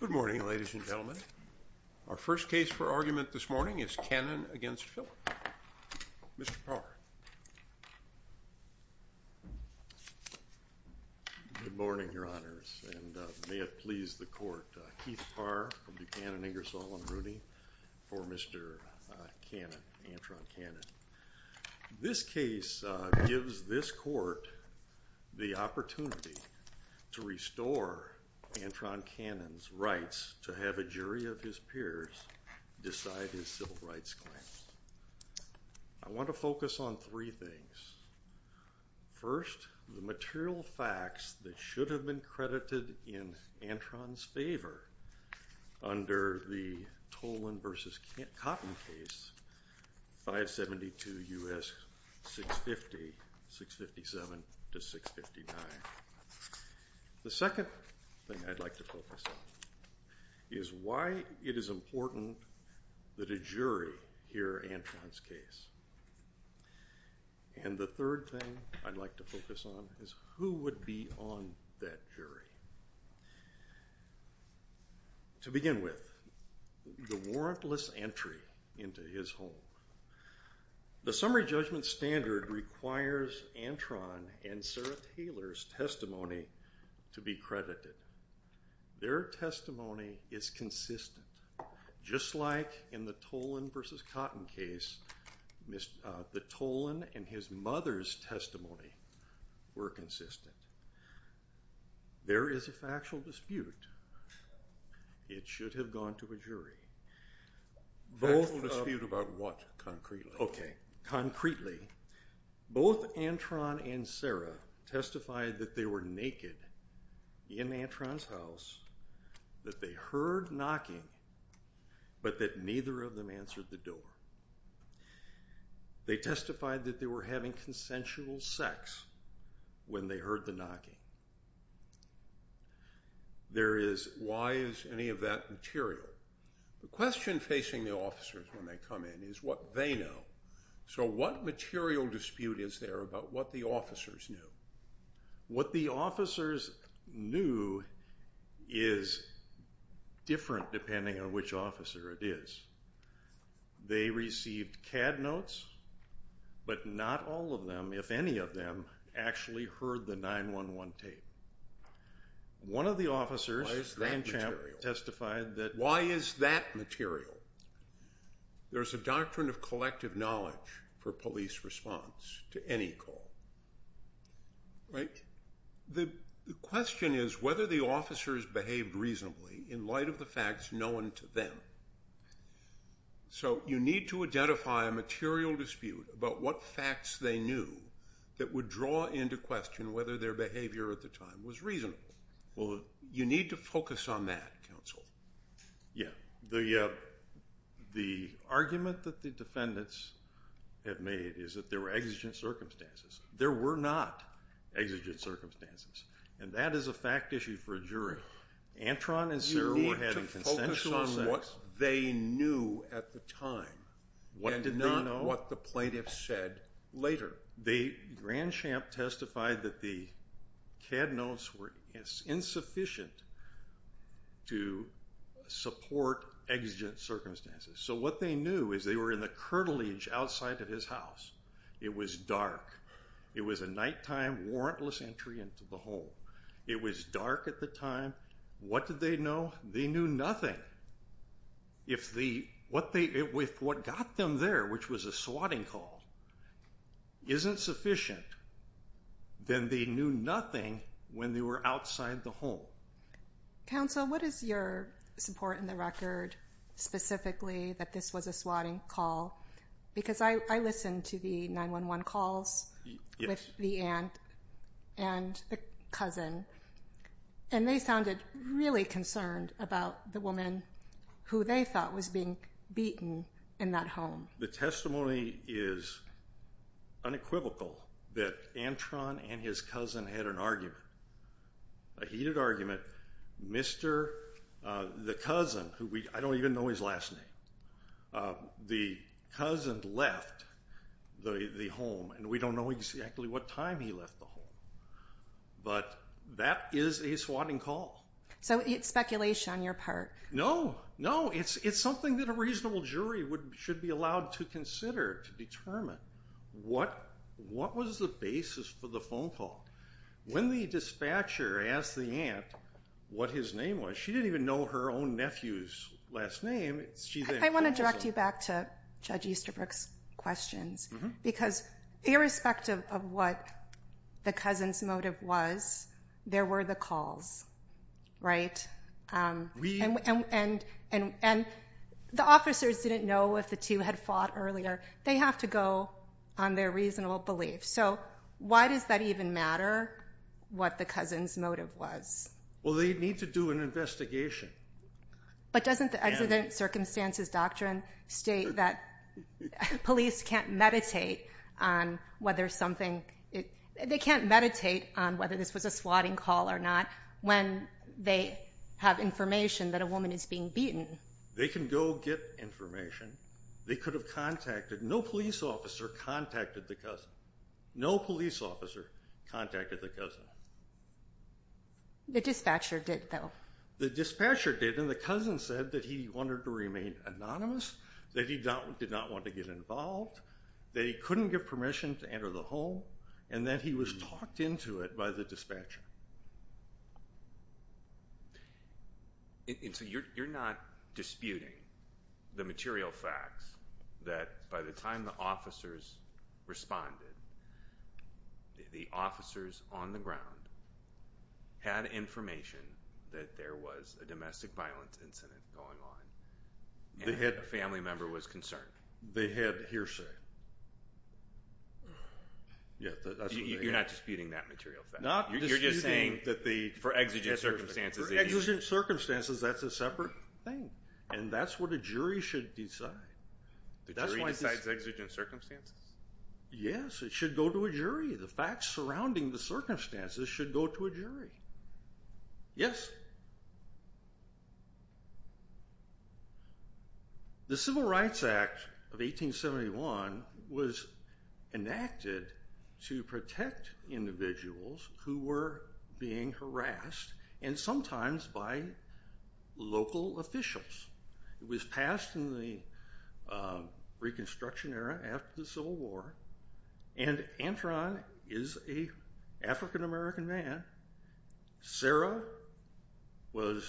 Good morning, ladies and gentlemen. Our first case for argument this morning is Cannon v. Filip. Mr. Parr. Good morning, Your Honors, and may it please the Court, Keith Parr for Buchanan, Ingersoll, and Rooney for Mr. Cannon, Antron Cannon. This case gives this Court the opportunity to restore Antron Cannon's rights to have a jury of his peers decide his civil rights claims. I want to focus on three things. First, the material facts that should have been credited in Antron's favor under the Tolan v. Cotton case, 572 U.S. 650-657-659. The second thing I'd like to focus on is why it is important that a jury hear Antron's case. And the third thing I'd like to focus on is who would be on that jury. To begin with, the warrantless entry into his home. The summary judgment standard requires Antron and Sarah Taylor's testimony to be credited. Their testimony is consistent. Just like in the Tolan v. Cotton case, the Tolan and his mother's testimony were consistent. There is a factual dispute. It should have gone to a jury. Factual dispute about what, concretely? Okay, concretely, both Antron and Sarah testified that they were naked in Antron's house, that they heard knocking, but that neither of them answered the door. They testified that they were having consensual sex when they heard the knocking. Why is any of that material? The question facing the officers when they come in is what they know. So what material dispute is there about what the officers knew? What the officers knew is different depending on which officer it is. They received CAD notes, but not all of them, if any of them, actually heard the 911 tape. One of the officers testified that why is that material? There's a doctrine of collective knowledge for police response to any call. The question is whether the officers behaved reasonably in light of the facts known to them. So you need to identify a material dispute about what facts they knew that would draw into question whether their behavior at the time was reasonable. You need to focus on that, counsel. Yeah, the argument that the defendants have made is that there were exigent circumstances. There were not exigent circumstances, and that is a fact issue for a jury. Antron and Sarah were having consensual sex. You need to focus on what they knew at the time and not what the plaintiffs said later. But Grandchamp testified that the CAD notes were insufficient to support exigent circumstances. So what they knew is they were in the curtilage outside of his house. It was dark. It was a nighttime, warrantless entry into the home. It was dark at the time. What did they know? They knew nothing. If what got them there, which was a swatting call, isn't sufficient, then they knew nothing when they were outside the home. Counsel, what is your support in the record specifically that this was a swatting call? Because I listened to the 911 calls with the aunt and the cousin, and they sounded really concerned about the woman who they thought was being beaten in that home. The testimony is unequivocal that Antron and his cousin had an argument, a heated argument. The cousin, I don't even know his last name, the cousin left the home, and we don't know exactly what time he left the home. But that is a swatting call. So it's speculation on your part. No, no. It's something that a reasonable jury should be allowed to consider to determine what was the basis for the phone call. When the dispatcher asked the aunt what his name was, she didn't even know her own nephew's last name. I want to direct you back to Judge Easterbrook's questions, because irrespective of what the cousin's motive was, there were the calls, right? And the officers didn't know if the two had fought earlier. They have to go on their reasonable belief. So why does that even matter what the cousin's motive was? Well, they need to do an investigation. But doesn't the accident circumstances doctrine state that police can't meditate on whether something, they can't meditate on whether this was a swatting call or not when they have information that a woman is being beaten? They can go get information. They could have contacted, no police officer contacted the cousin. No police officer contacted the cousin. The dispatcher did, though. The dispatcher did, and the cousin said that he wanted to remain anonymous, that he did not want to get involved, that he couldn't give permission to enter the home, and that he was talked into it by the dispatcher. And so you're not disputing the material facts that by the time the officers responded, the officers on the ground had information that there was a domestic violence incident going on, and a family member was concerned. They had hearsay. You're not disputing that material fact. You're just saying that for exigent circumstances. For exigent circumstances, that's a separate thing, and that's what a jury should decide. The jury decides exigent circumstances? Yes, it should go to a jury. The facts surrounding the circumstances should go to a jury. Yes. The Civil Rights Act of 1871 was enacted to protect individuals who were being harassed, and sometimes by local officials. It was passed in the Reconstruction era after the Civil War, and Antron is an African-American man. Sarah was,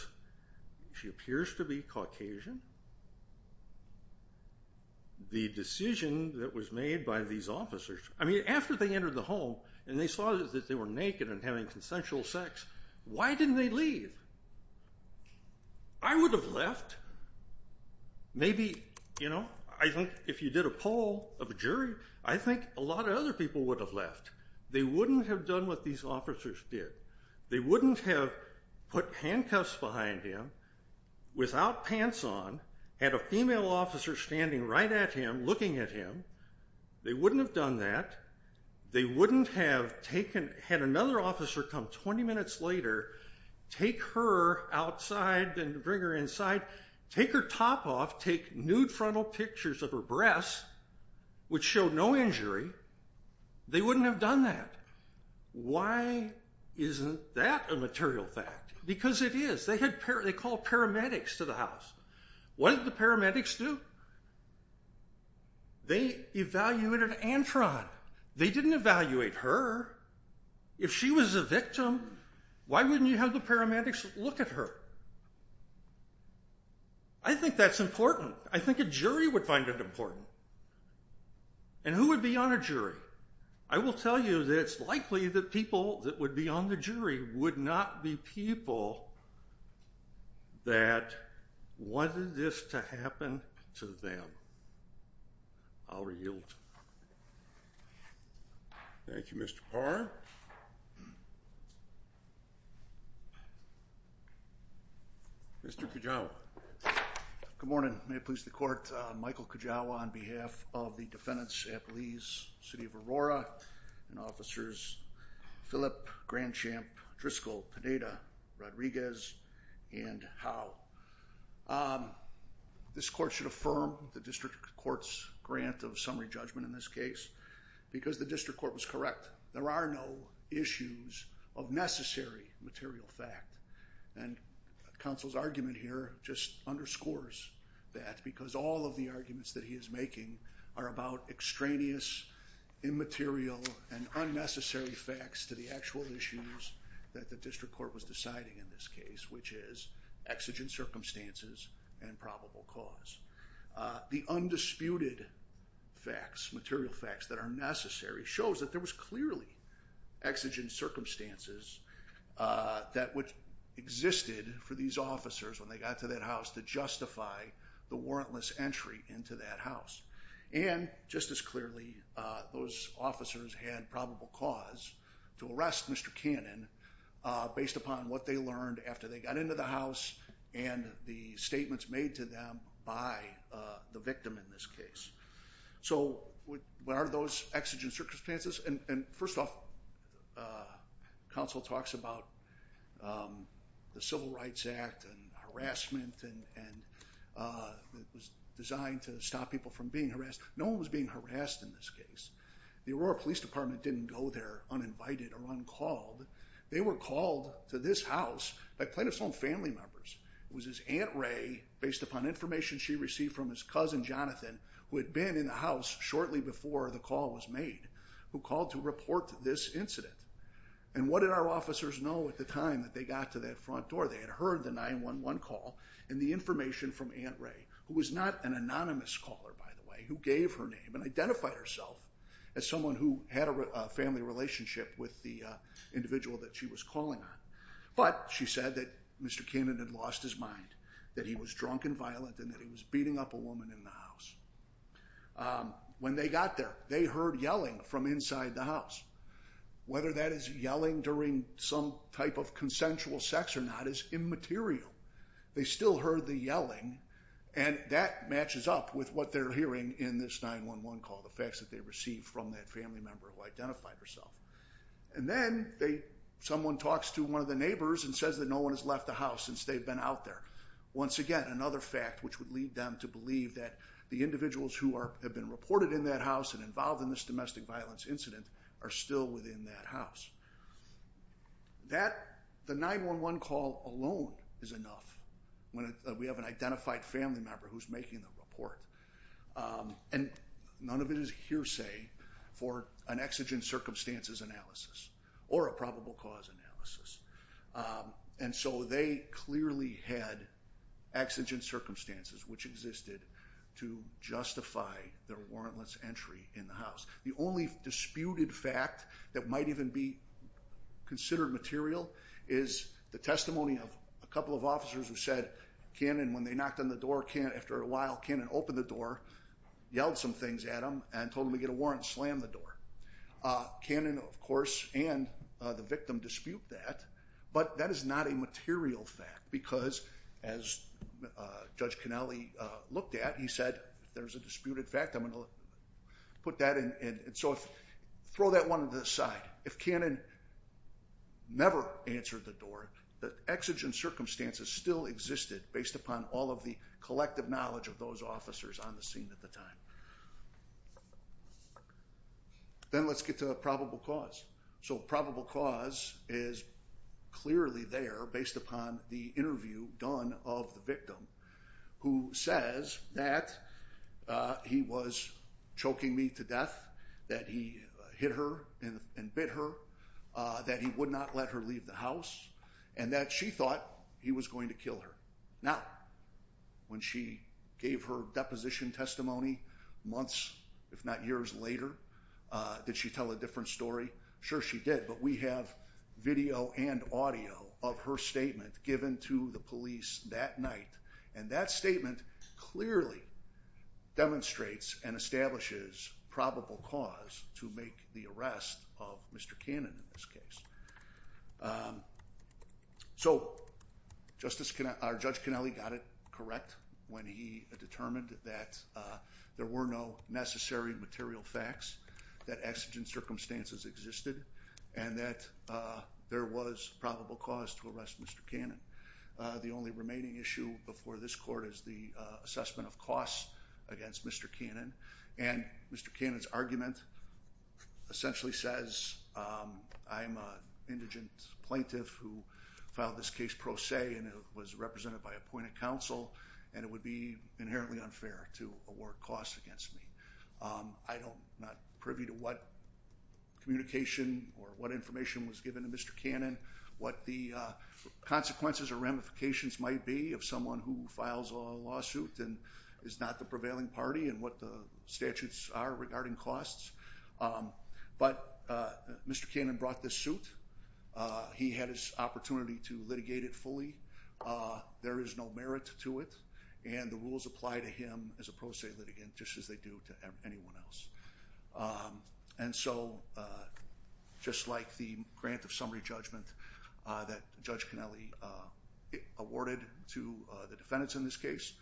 she appears to be Caucasian. The decision that was made by these officers, I mean, after they entered the home and they saw that they were naked and having consensual sex, why didn't they leave? I would have left. Maybe, you know, I think if you did a poll of a jury, I think a lot of other people would have left. They wouldn't have done what these officers did. They wouldn't have put handcuffs behind him, without pants on, had a female officer standing right at him, looking at him. They wouldn't have done that. They wouldn't have taken, had another officer come 20 minutes later, take her outside and bring her inside, take her top off, take nude frontal pictures of her breasts, which showed no injury, they wouldn't have done that. Why isn't that a material fact? Because it is. They had paramedics, they called paramedics to the house. What did the paramedics do? They evaluated Antron. They didn't evaluate her. If she was a victim, why wouldn't you have the paramedics look at her? I think that's important. I think a jury would find it important. And who would be on a jury? I will tell you that it's likely that people that would be on the jury would not be people that wanted this to happen to them. I'll yield. Thank you, Mr. Parr. Mr. Kujawa. Good morning. May it please the court. My name is Michael Kujawa on behalf of the defendants at Lee's, City of Aurora, and officers Phillip Grandchamp, Driscoll Pineda, Rodriguez, and Howe. This court should affirm the district court's grant of summary judgment in this case because the district court was correct. There are no issues of necessary material fact. And counsel's argument here just underscores that because all of the arguments that he is making are about extraneous, immaterial, and unnecessary facts to the actual issues that the district court was deciding in this case, which is exigent circumstances and probable cause. The undisputed facts, material facts, that are necessary shows that there was clearly exigent circumstances that existed for these officers when they got to that house to justify the warrantless entry into that house. And just as clearly, those officers had probable cause to arrest Mr. Cannon based upon what they learned after they got into the house and the statements made to them by the victim in this case. So what are those exigent circumstances? And first off, counsel talks about the Civil Rights Act and harassment and it was designed to stop people from being harassed. No one was being harassed in this case. The Aurora Police Department didn't go there uninvited or uncalled. They were called to this house by plaintiff's own family members. It was his Aunt Ray, based upon information she received from his cousin Jonathan, who had been in the house shortly before the call was made, who called to report this incident. And what did our officers know at the time that they got to that front door? They had heard the 911 call and the information from Aunt Ray, who was not an anonymous caller, by the way, who gave her name and identified herself as someone who had a family relationship with the individual that she was calling on. But she said that Mr. Cannon had lost his mind, that he was drunk and violent, and that he was beating up a woman in the house. When they got there, they heard yelling from inside the house. Whether that is yelling during some type of consensual sex or not is immaterial. They still heard the yelling and that matches up with what they're hearing in this 911 call, the facts that they received from that family member who identified herself. And then someone talks to one of the neighbors and says that no one has left the house since they've been out there. Once again, another fact which would lead them to believe that the individuals who have been reported in that house and involved in this domestic violence incident are still within that house. The 911 call alone is enough when we have an identified family member who's making the report. And none of it is hearsay for an exigent circumstances analysis or a probable cause analysis. And so they clearly had exigent circumstances which existed to justify their warrantless entry in the house. The only disputed fact that might even be considered material is the testimony of a couple of officers who said, Cannon, when they knocked on the door, after a while, Cannon opened the door, yelled some things at him, and told him to get a warrant and slammed the door. Cannon, of course, and the victim dispute that. But that is not a material fact because, as Judge Cannelli looked at, he said, if there's a disputed fact, I'm going to put that in. And so throw that one to the side. If Cannon never answered the door, the exigent circumstances still existed based upon all of the collective knowledge of those officers on the scene at the time. Then let's get to the probable cause. So probable cause is clearly there based upon the interview done of the victim who says that he was choking me to death, that he hit her and bit her, that he would not let her leave the house, and that she thought he was going to kill her. Now, when she gave her deposition testimony months, if not years later, did she tell a different story? Sure she did, but we have video and audio of her statement given to the police that night. And that statement clearly demonstrates and establishes probable cause to make the arrest of Mr. Cannon in this case. So Judge Cannelli got it correct when he determined that there were no necessary material facts that exigent circumstances existed and that there was probable cause to arrest Mr. Cannon. The only remaining issue before this court is the assessment of costs against Mr. Cannon. And Mr. Cannon's argument essentially says I'm an indigent plaintiff who filed this case pro se and it was represented by appointed counsel and it would be inherently unfair to award costs against me. I'm not privy to what communication or what information was given to Mr. Cannon, what the consequences or ramifications might be of someone who files a lawsuit and is not the prevailing party and what the statutes are regarding costs. But Mr. Cannon brought this suit. He had his opportunity to litigate it fully. There is no merit to it and the rules apply to him as a pro se litigant just as they do to anyone else. And so just like the grant of summary judgment that Judge Cannelli awarded to the defendants in this case,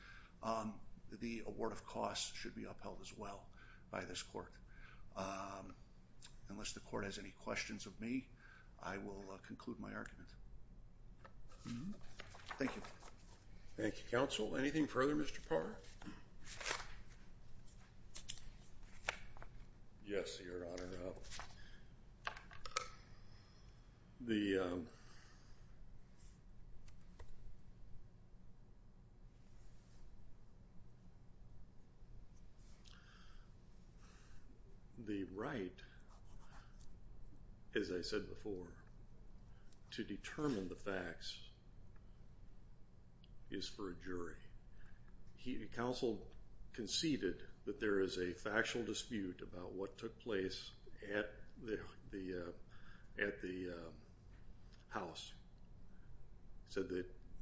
the award of costs should be upheld as well by this court. Unless the court has any questions of me, I will conclude my argument. Thank you. Thank you, counsel. Anything further, Mr. Parr? Yes, Your Honor. The right, as I said before, to determine the facts is for a jury. Counsel conceded that there is a factual dispute about what took place at the house. So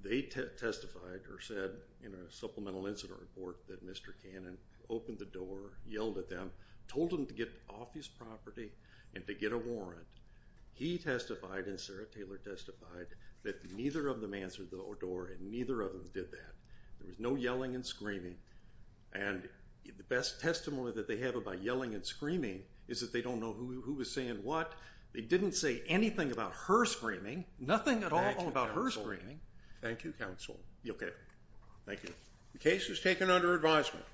they testified or said in a supplemental incident report that Mr. Cannon opened the door, yelled at them, told them to get off his property and to get a warrant. He testified and Sarah Taylor testified that neither of them answered the door and neither of them did that. There was no yelling and screaming. And the best testimony that they have about yelling and screaming is that they don't know who was saying what. They didn't say anything about her screaming, nothing at all about her screaming. Thank you, counsel. You'll get it. Thank you. The case is taken under advisement.